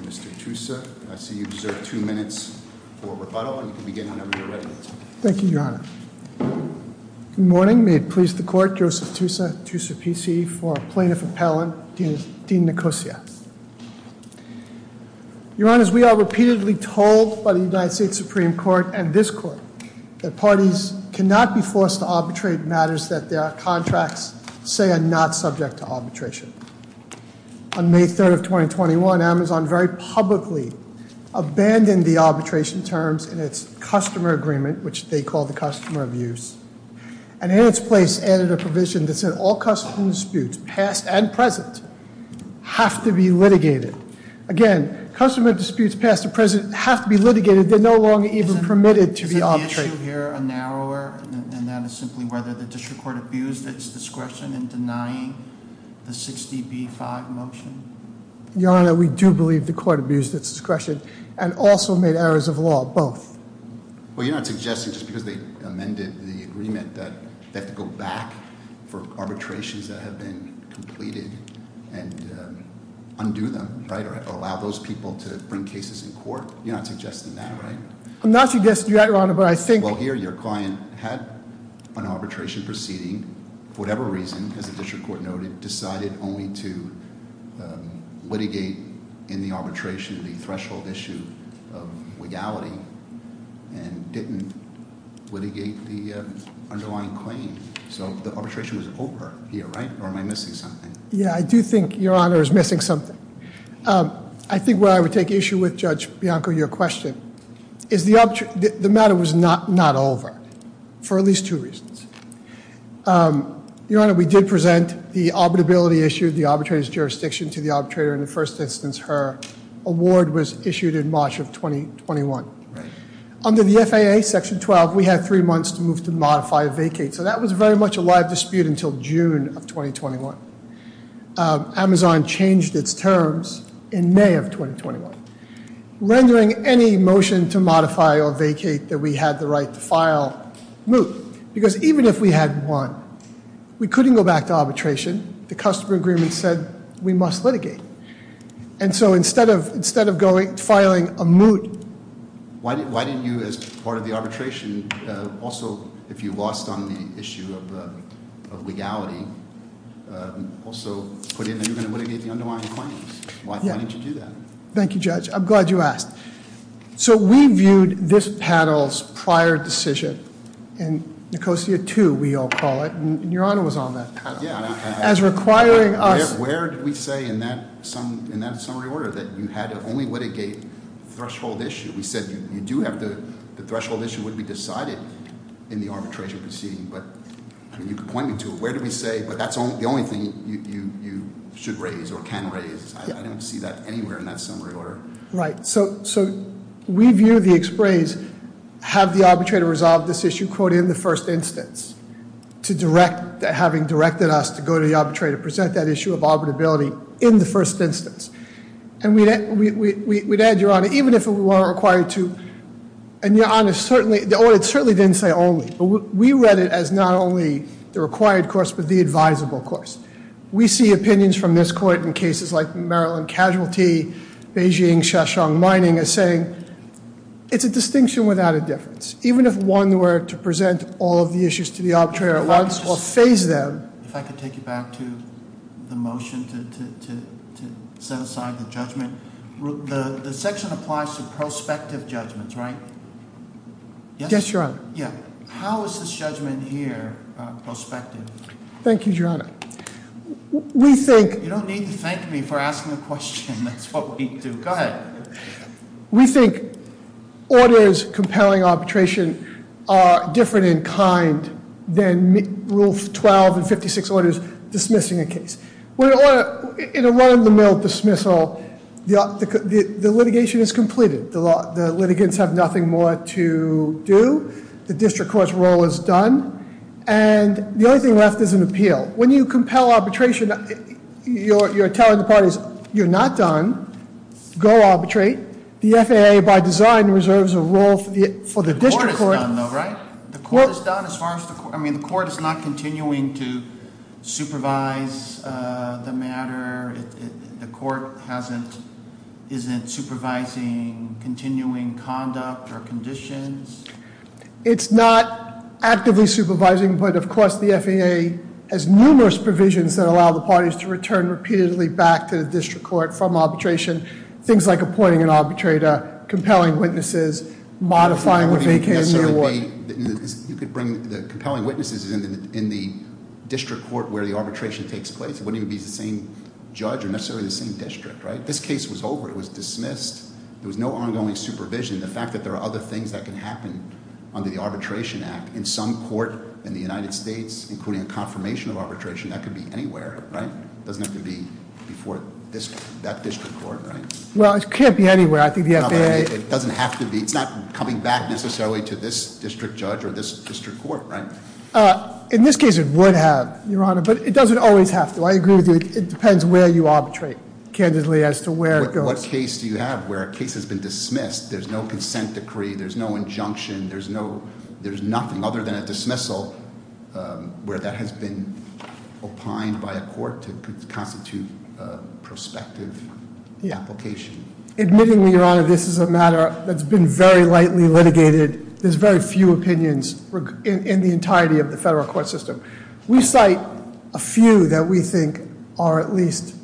Mr. Tussa, I see you deserve two minutes for rebuttal, and you can begin whenever you're ready. Thank you, Your Honor. Good morning. May it please the Court, Joseph Tussa, Tussa PC, for Plaintiff Appellant, Dean Nicosia. Your Honors, we are repeatedly told by the United States Supreme Court and this Court that parties cannot be forced to arbitrate matters that their contracts say are not subject to arbitration. On May 3rd of 2021, Amazon very publicly abandoned the arbitration terms in its Customer Agreement, which they call the Customer of Use, and in its place added a provision that said all customer disputes, past and present, have to be litigated. Again, customer disputes past and present have to be litigated. They're no longer even permitted to be arbitrated. Is the issue here a narrower, and that is simply whether the district court abused its discretion in denying the 60B-5 motion? Your Honor, we do believe the court abused its discretion and also made errors of law, both. Well, you're not suggesting just because they amended the agreement that they have to go back for arbitrations that have been completed and undo them, right, or allow those people to bring cases in court? You're not suggesting that, right? I'm not suggesting that, Your Honor, but I think- Well, here your client had an arbitration proceeding for whatever reason, as the district court noted, decided only to litigate in the arbitration the threshold issue of legality and didn't litigate the underlying claim. So the arbitration was over here, right, or am I missing something? Yeah, I do think, Your Honor, is missing something. I think where I would take issue with, Judge Bianco, your question, is the matter was not over for at least two reasons. Your Honor, we did present the arbitrability issue, the arbitrator's jurisdiction to the arbitrator. In the first instance, her award was issued in March of 2021. Under the FAA Section 12, we had three months to move to modify a vacate, so that was very much a live dispute until June of 2021. Amazon changed its terms in May of 2021, rendering any motion to modify or vacate that we had the right to file moot, because even if we had won, we couldn't go back to arbitration. The customer agreement said we must litigate, and so instead of filing a moot- Thank you, Judge. I'm glad you asked. So we viewed this panel's prior decision in Nicosia 2, we all call it, and Your Honor was on that. As requiring us- Where did we say in that summary order that you had to only litigate threshold issue? We said you do have the threshold issue would be decided in the arbitration proceeding, but you could point me to it. Where did we say, but that's the only thing you should raise or can raise? I don't see that anywhere in that summary order. Right, so we view the ex-praise, have the arbitrator resolve this issue, quote, in the first instance, to direct, having directed us to go to the arbitrator, present that issue of arbitrability in the first instance. And we'd add, Your Honor, even if it were required to, and Your Honor, the audit certainly didn't say only, but we read it as not only the required course, but the advisable course. We see opinions from this court in cases like Maryland Casualty, Beijing Shashung Mining as saying, it's a distinction without a difference, even if one were to present all of the issues to the arbitrator at once or phase them. If I could take you back to the motion to set aside the judgment. The section applies to prospective judgments, right? Yes, Your Honor. Yeah, how is this judgment here prospective? Thank you, Your Honor. We think- You don't need to thank me for asking the question. That's what we do. Go ahead. We think orders compelling arbitration are different in kind than Rule 12 and 56 orders dismissing a case. In a run of the mill dismissal, the litigation is completed. The litigants have nothing more to do. The district court's role is done. And the only thing left is an appeal. When you compel arbitration, you're telling the parties, you're not done. Go arbitrate. The FAA, by design, reserves a role for the district court. The court is done, though, right? The court is done as far as the court. I mean, the court is not continuing to supervise the matter. The court isn't supervising continuing conduct or conditions. It's not actively supervising. But, of course, the FAA has numerous provisions that allow the parties to return repeatedly back to the district court from arbitration. Things like appointing an arbitrator, compelling witnesses, modifying the vacancy award. You could bring the compelling witnesses in the district court where the arbitration takes place. It wouldn't even be the same judge or necessarily the same district, right? This case was over. It was dismissed. There was no ongoing supervision. The fact that there are other things that can happen under the Arbitration Act in some court in the United States, including a confirmation of arbitration, that could be anywhere, right? It doesn't have to be before that district court, right? Well, it can't be anywhere. I think the FAA- It doesn't have to be. It's not coming back necessarily to this district judge or this district court, right? In this case, it would have, Your Honor. But it doesn't always have to. I agree with you. It depends where you arbitrate, candidly, as to where it goes. What case do you have where a case has been dismissed, there's no consent decree, there's no injunction, there's nothing other than a dismissal where that has been opined by a court to constitute prospective application? Admittingly, Your Honor, this is a matter that's been very lightly litigated. There's very few opinions in the entirety of the federal court system. We cite a few that we think are at least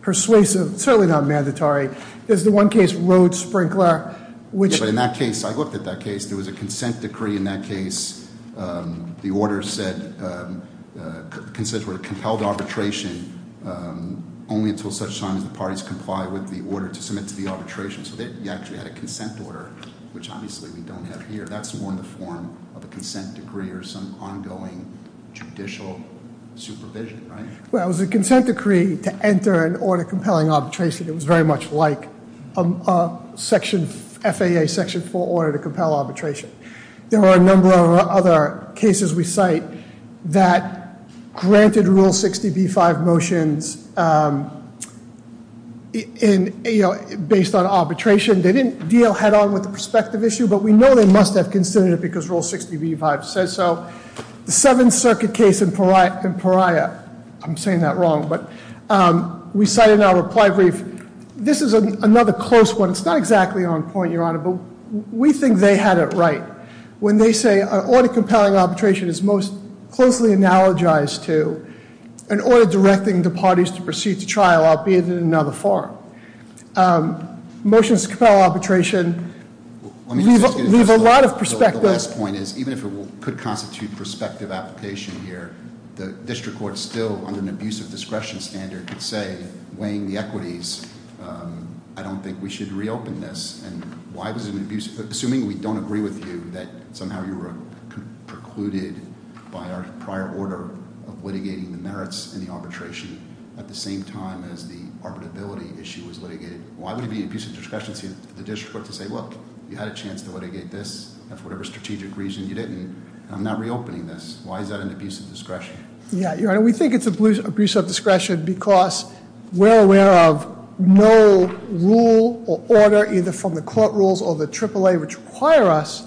persuasive, certainly not mandatory. There's the one case, Road Sprinkler, which- Yeah, but in that case, I looked at that case. There was a consent decree in that case. The order said, were compelled to arbitration only until such time as the parties comply with the order to submit to the arbitration. So they actually had a consent order, which obviously we don't have here. That's more in the form of a consent decree or some ongoing judicial supervision, right? Well, it was a consent decree to enter an order compelling arbitration. It was very much like an FAA Section 4 order to compel arbitration. There were a number of other cases we cite that granted Rule 60B-5 motions based on arbitration. They didn't deal head-on with the perspective issue, but we know they must have considered it because Rule 60B-5 says so. The Seventh Circuit case in Pariah, I'm saying that wrong, but we cite it in our reply brief. This is another close one. It's not exactly on point, Your Honor, but we think they had it right. When they say an order compelling arbitration is most closely analogized to an order directing the parties to proceed to trial, albeit in another form. Motions to compel arbitration leave a lot of perspective. The last point is, even if it could constitute prospective application here, the district court still, under an abuse of discretion standard, could say, weighing the equities, I don't think we should reopen this. And assuming we don't agree with you, that somehow you were precluded by our prior order of litigating the merits in the arbitration at the same time as the arbitrability issue was litigated, why would it be an abuse of discretion for the district court to say, look, you had a chance to litigate this, and for whatever strategic reason you didn't, and I'm not reopening this. Why is that an abuse of discretion? Yeah, Your Honor, we think it's an abuse of discretion because we're aware of no rule or order, either from the court rules or the AAA, which require us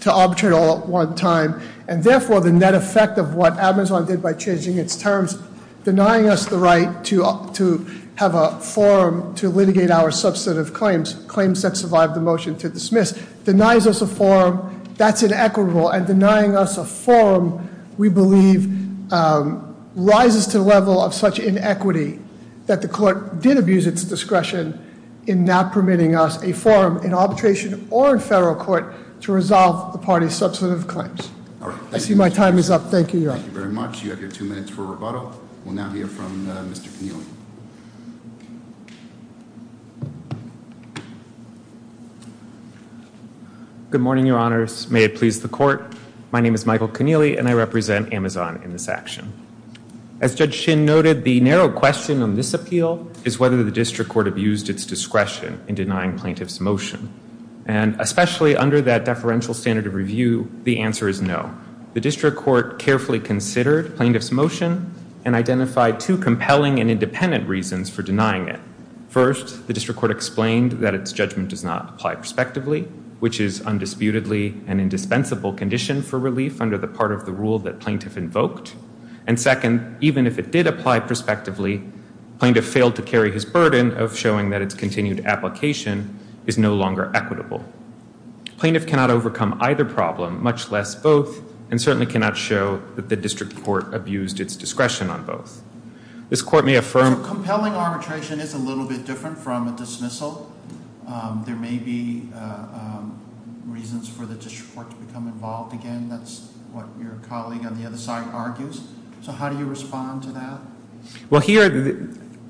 to arbitrate all at one time. And therefore, the net effect of what Amazon did by changing its terms, denying us the right to have a forum to litigate our substantive claims, claims that survived the motion to dismiss, denies us a forum, that's inequitable. And denying us a forum, we believe, rises to the level of such inequity that the court did abuse its discretion in not permitting us a forum in arbitration or in federal court to resolve the party's substantive claims. I see my time is up. Thank you, Your Honor. Thank you very much. You have your two minutes for rebuttal. We'll now hear from Mr. Connealy. Good morning, Your Honors. May it please the court. My name is Michael Connealy, and I represent Amazon in this action. As Judge Shin noted, the narrow question on this appeal is whether the district court abused its discretion in denying plaintiff's motion. And especially under that deferential standard of review, the answer is no. The district court carefully considered plaintiff's motion and identified two compelling and independent reasons for denying it. First, the district court explained that its judgment does not apply prospectively, which is undisputedly an indispensable condition for relief under the part of the rule that plaintiff invoked. And second, even if it did apply prospectively, plaintiff failed to carry his burden of showing that its continued application is no longer equitable. Plaintiff cannot overcome either problem, much less both, and certainly cannot show that the district court abused its discretion on both. This court may affirm Compelling arbitration is a little bit different from a dismissal. There may be reasons for the district court to become involved again. I mean, that's what your colleague on the other side argues. So how do you respond to that? Well, here,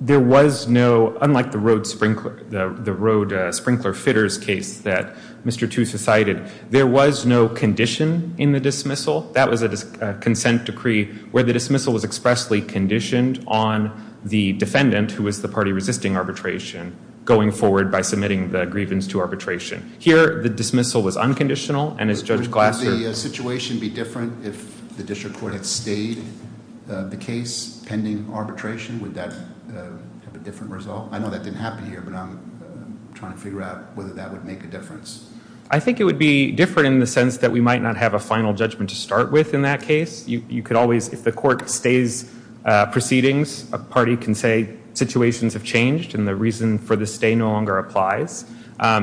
there was no, unlike the road sprinkler, the road sprinkler fitters case that Mr. Tooth has cited, there was no condition in the dismissal. That was a consent decree where the dismissal was expressly conditioned on the defendant, who was the party resisting arbitration, going forward by submitting the grievance to arbitration. Here, the dismissal was unconditional, and as Judge Glasser Would the situation be different if the district court had stayed the case pending arbitration? Would that have a different result? I know that didn't happen here, but I'm trying to figure out whether that would make a difference. I think it would be different in the sense that we might not have a final judgment to start with in that case. You could always, if the court stays proceedings, a party can say situations have changed and the reason for the stay no longer applies.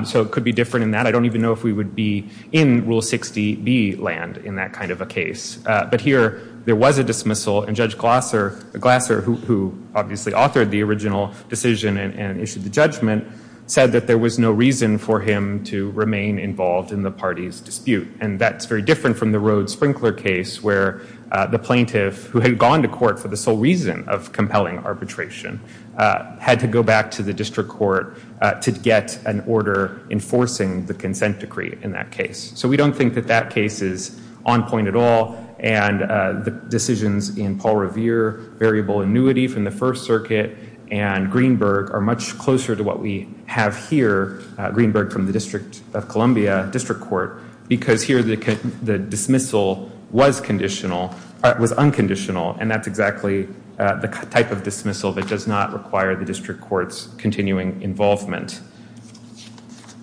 So it could be different in that. I don't even know if we would be in Rule 60B land in that kind of a case. But here, there was a dismissal, and Judge Glasser, who obviously authored the original decision and issued the judgment, said that there was no reason for him to remain involved in the party's dispute. And that's very different from the road sprinkler case where the plaintiff, who had gone to court for the sole reason of compelling arbitration, had to go back to the district court to get an order enforcing the consent decree in that case. So we don't think that that case is on point at all. And the decisions in Paul Revere, variable annuity from the First Circuit, and Greenberg are much closer to what we have here, Greenberg from the District of Columbia District Court, because here the dismissal was unconditional. And that's exactly the type of dismissal that does not require the district court's continuing involvement.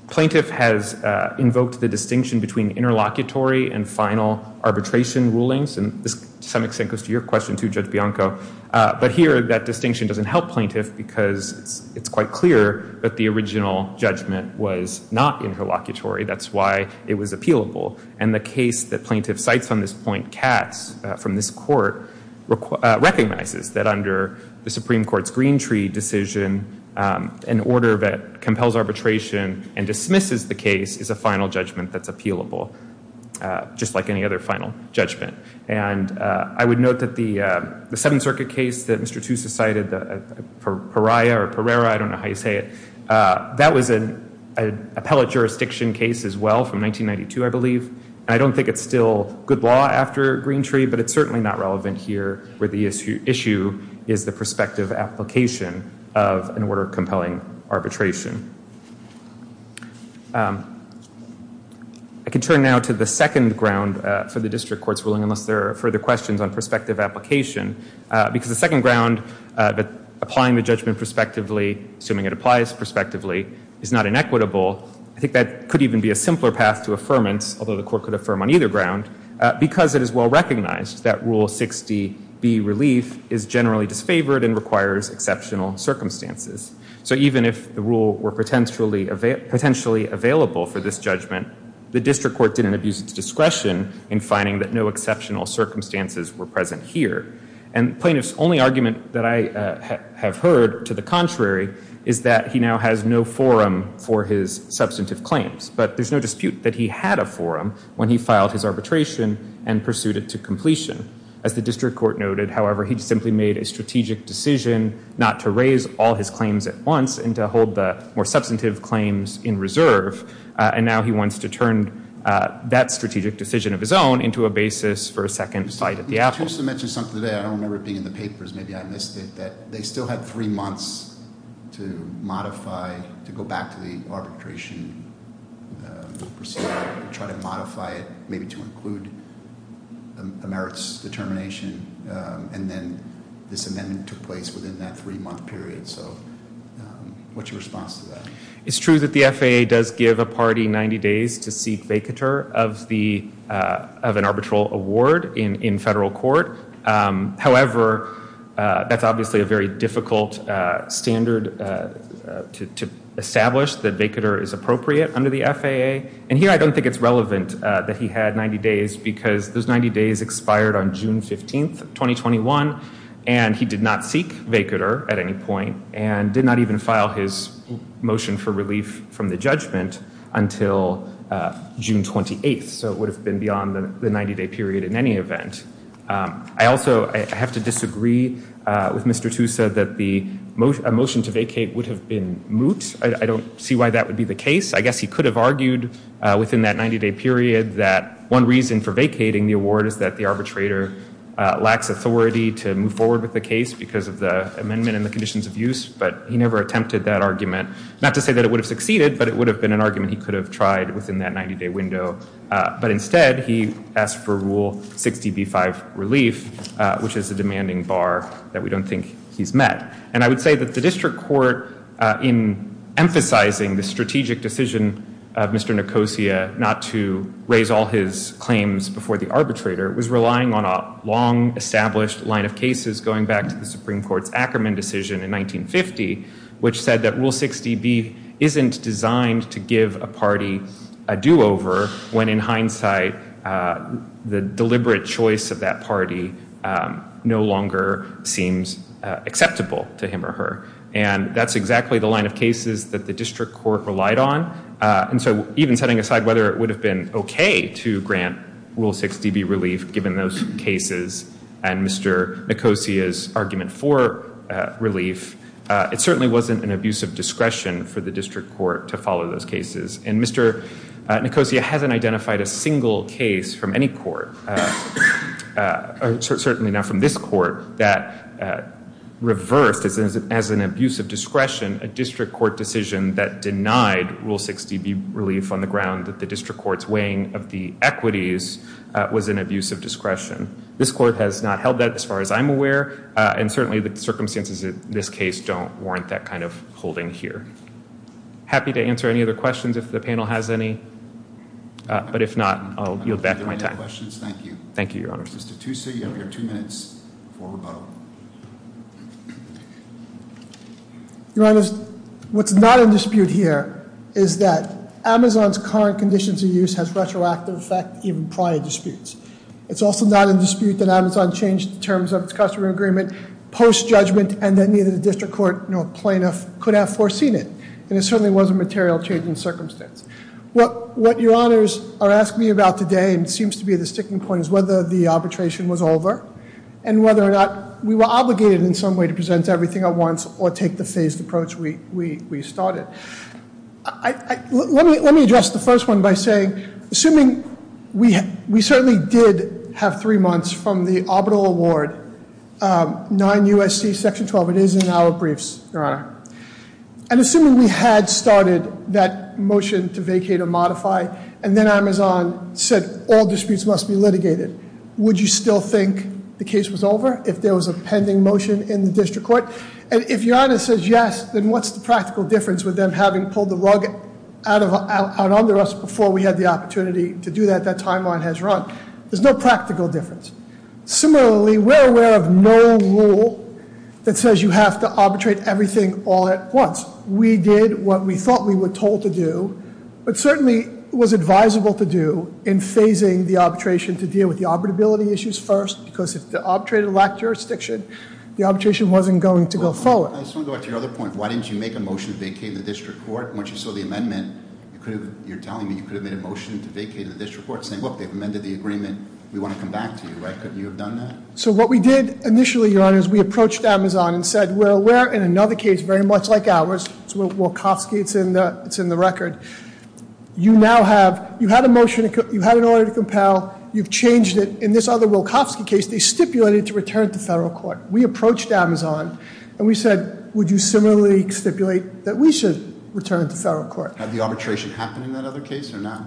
Plaintiff has invoked the distinction between interlocutory and final arbitration rulings, and this to some extent goes to your question too, Judge Bianco. But here, that distinction doesn't help plaintiff because it's quite clear that the original judgment was not interlocutory. That's why it was appealable. And the case that plaintiff cites on this point, Katz, from this court, recognizes that under the Supreme Court's Greentree decision, an order that compels arbitration and dismisses the case is a final judgment that's appealable, just like any other final judgment. And I would note that the Seventh Circuit case that Mr. Tusa cited, the Pariah or Pereira, I don't know how you say it, that was an appellate jurisdiction case as well from 1992, I believe. And I don't think it's still good law after Greentree, but it's certainly not relevant here where the issue is the prospective application of an order compelling arbitration. I can turn now to the second ground for the district court's ruling, unless there are further questions on prospective application, because the second ground, applying the judgment prospectively, assuming it applies prospectively, is not inequitable. I think that could even be a simpler path to affirmance, although the court could affirm on either ground, because it is well recognized that Rule 60B, Relief, is generally disfavored and requires exceptional circumstances. So even if the rule were potentially available for this judgment, the district court didn't abuse its discretion in finding that no exceptional circumstances were present here. And plaintiff's only argument that I have heard to the contrary is that he now has no forum for his substantive claims. But there's no dispute that he had a forum when he filed his arbitration and pursued it to completion. As the district court noted, however, he simply made a strategic decision not to raise all his claims at once and to hold the more substantive claims in reserve. And now he wants to turn that strategic decision of his own into a basis for a second fight at the apple. You also mentioned something today, I don't remember it being in the papers, maybe I missed it, that they still had three months to modify, to go back to the arbitration procedure, try to modify it, maybe to include a merits determination, and then this amendment took place within that three-month period. So what's your response to that? It's true that the FAA does give a party 90 days to seek vacatur of an arbitral award in federal court. However, that's obviously a very difficult standard to establish that vacatur is appropriate under the FAA. And here I don't think it's relevant that he had 90 days because those 90 days expired on June 15th, 2021, and he did not seek vacatur at any point and did not even file his motion for relief from the judgment until June 28th. So it would have been beyond the 90-day period in any event. I also have to disagree with Mr. Tusa that a motion to vacate would have been moot. I don't see why that would be the case. I guess he could have argued within that 90-day period that one reason for vacating the award is that the arbitrator lacks authority to move forward with the case because of the amendment and the conditions of use, but he never attempted that argument. Not to say that it would have succeeded, but it would have been an argument he could have tried within that 90-day window. But instead, he asked for Rule 60b-5 relief, which is a demanding bar that we don't think he's met. And I would say that the district court, in emphasizing the strategic decision of Mr. Nicosia not to raise all his claims before the arbitrator, was relying on a long-established line of cases going back to the Supreme Court's Ackerman decision in 1950, which said that Rule 60b isn't designed to give a party a do-over when, in hindsight, the deliberate choice of that party no longer seems acceptable to him or her. And that's exactly the line of cases that the district court relied on. And so even setting aside whether it would have been okay to grant Rule 60b relief, given those cases and Mr. Nicosia's argument for relief, it certainly wasn't an abuse of discretion for the district court to follow those cases. And Mr. Nicosia hasn't identified a single case from any court, certainly not from this court, that reversed as an abuse of discretion a district court decision that denied Rule 60b relief on the ground that the district court's weighing of the equities was an abuse of discretion. This court has not held that, as far as I'm aware, and certainly the circumstances of this case don't warrant that kind of holding here. Happy to answer any other questions if the panel has any. But if not, I'll yield back my time. Thank you. Thank you, Your Honor. Mr. Tussa, you have your two minutes for rebuttal. Your Honor, what's not in dispute here is that Amazon's current conditions of use has retroactive effect even prior disputes. It's also not in dispute that Amazon changed the terms of its customer agreement post-judgment and that neither the district court nor plaintiff could have foreseen it. And it certainly wasn't material change in circumstance. What Your Honors are asking me about today and seems to be the sticking point is whether the arbitration was over and whether or not we were obligated in some way to present everything at once or take the phased approach we started. Let me address the first one by saying, assuming we certainly did have three months from the arbitral award, 9 U.S.C. Section 12, it is in our briefs, Your Honor. And assuming we had started that motion to vacate or modify and then Amazon said all disputes must be litigated, would you still think the case was over if there was a pending motion in the district court? And if Your Honor says yes, then what's the practical difference with them having pulled the rug out under us before we had the opportunity to do that, that timeline has run? There's no practical difference. Similarly, we're aware of no rule that says you have to arbitrate everything all at once. We did what we thought we were told to do, but certainly was advisable to do in phasing the arbitration to deal with the arbitrability issues first because if the arbitrator lacked jurisdiction, the arbitration wasn't going to go forward. I just want to go back to your other point. Why didn't you make a motion to vacate the district court? Once you saw the amendment, you're telling me you could have made a motion to vacate the district court, saying, look, they've amended the agreement, we want to come back to you, right? Couldn't you have done that? So what we did initially, Your Honor, is we approached Amazon and said, we're aware in another case, very much like ours, it's Wilkofsky, it's in the record. You now have, you had a motion, you had an order to compel, you've changed it. In this other Wilkofsky case, they stipulated to return it to federal court. We approached Amazon and we said, would you similarly stipulate that we should return it to federal court? Had the arbitration happened in that other case or not?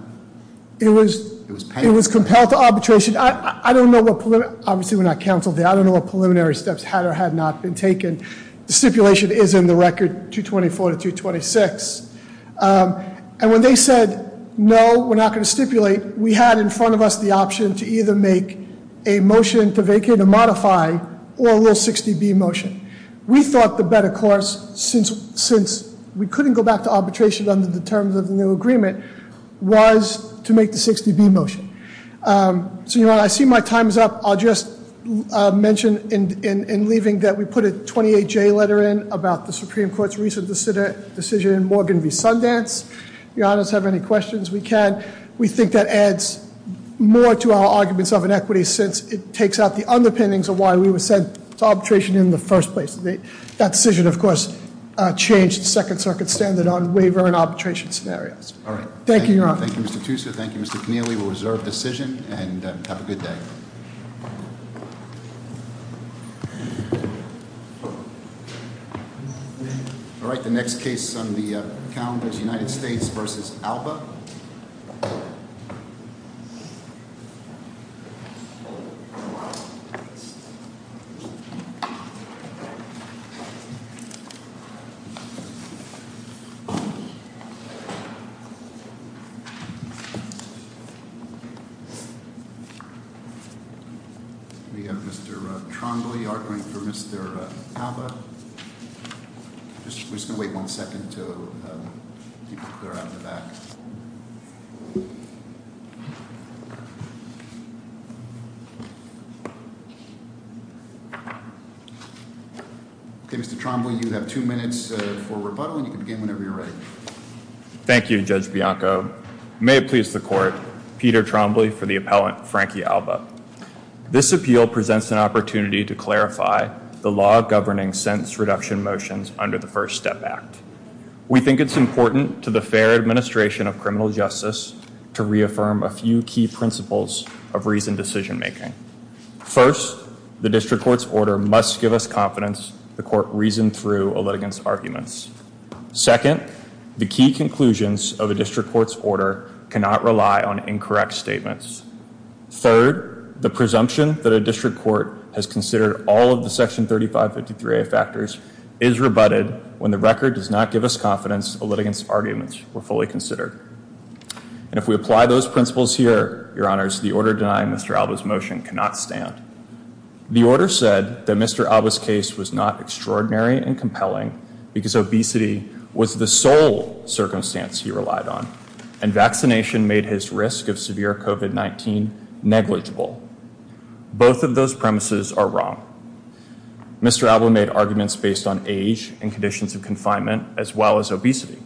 It was compelled to arbitration. Obviously, we're not counsel there. I don't know what preliminary steps had or had not been taken. The stipulation is in the record 224 to 226. And when they said, no, we're not going to stipulate, we had in front of us the option to either make a motion to vacate or modify or a little 60B motion. We thought the better course, since we couldn't go back to arbitration under the terms of the new agreement, was to make the 60B motion. So, Your Honor, I see my time is up. I'll just mention in leaving that we put a 28J letter in about the Supreme Court's recent decision in Morgan v. Sundance. If Your Honors have any questions, we can. We think that adds more to our arguments of inequity, since it takes out the underpinnings of why we were sent to arbitration in the first place. That decision, of course, changed the Second Circuit standard on waiver and arbitration scenarios. Thank you, Your Honor. Thank you, Mr. Tusa. Thank you, Mr. Keneally. We'll reserve decision and have a good day. All right. The next case on the calendar is United States v. Alba. We have Mr. Trombley arguing for Mr. Alba. We're just going to wait one second until people clear out in the back. Okay, Mr. Trombley, you have two minutes for rebuttal, and you can begin whenever you're ready. Thank you, Judge Bianco. Your Honor, may it please the Court, Peter Trombley for the appellant, Frankie Alba. This appeal presents an opportunity to clarify the law governing sentence reduction motions under the First Step Act. We think it's important to the fair administration of criminal justice to reaffirm a few key principles of reasoned decision making. First, the district court's order must give us confidence the court reasoned through a litigant's arguments. Second, the key conclusions of a district court's order cannot rely on incorrect statements. Third, the presumption that a district court has considered all of the Section 3553A factors is rebutted when the record does not give us confidence a litigant's arguments were fully considered. And if we apply those principles here, Your Honors, the order denying Mr. Alba's motion cannot stand. The order said that Mr. Alba's case was not extraordinary and compelling because obesity was the sole circumstance he relied on, and vaccination made his risk of severe COVID-19 negligible. Both of those premises are wrong. Mr. Alba made arguments based on age and conditions of confinement as well as obesity,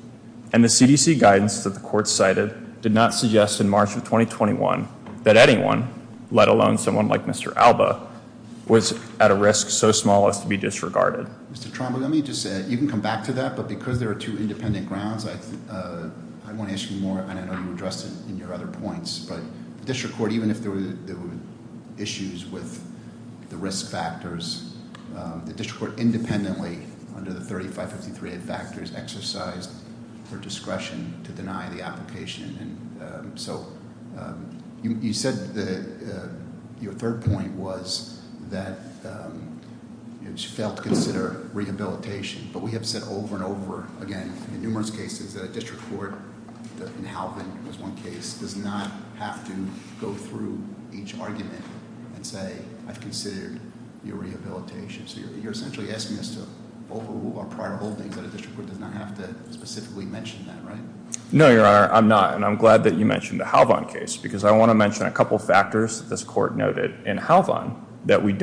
and the CDC guidance that the court cited did not suggest in March of 2021 that anyone, let alone someone like Mr. Alba, was at a risk so small as to be disregarded. Mr. Tromberg, let me just say, you can come back to that, but because there are two independent grounds, I want to ask you more, and I know you addressed it in your other points, but district court, even if there were issues with the risk factors, the district court independently under the 3553 factors exercised her discretion to deny the application. And so you said your third point was that she failed to consider rehabilitation, but we have said over and over again in numerous cases that a district court, and Halvin was one case, does not have to go through each argument and say, I've considered your rehabilitation. So you're essentially asking us to overrule our prior holdings, that a district court does not have to specifically mention that, right? No, Your Honor, I'm not. And I'm glad that you mentioned the Halvin case, because I want to mention a couple of factors that this court noted in Halvin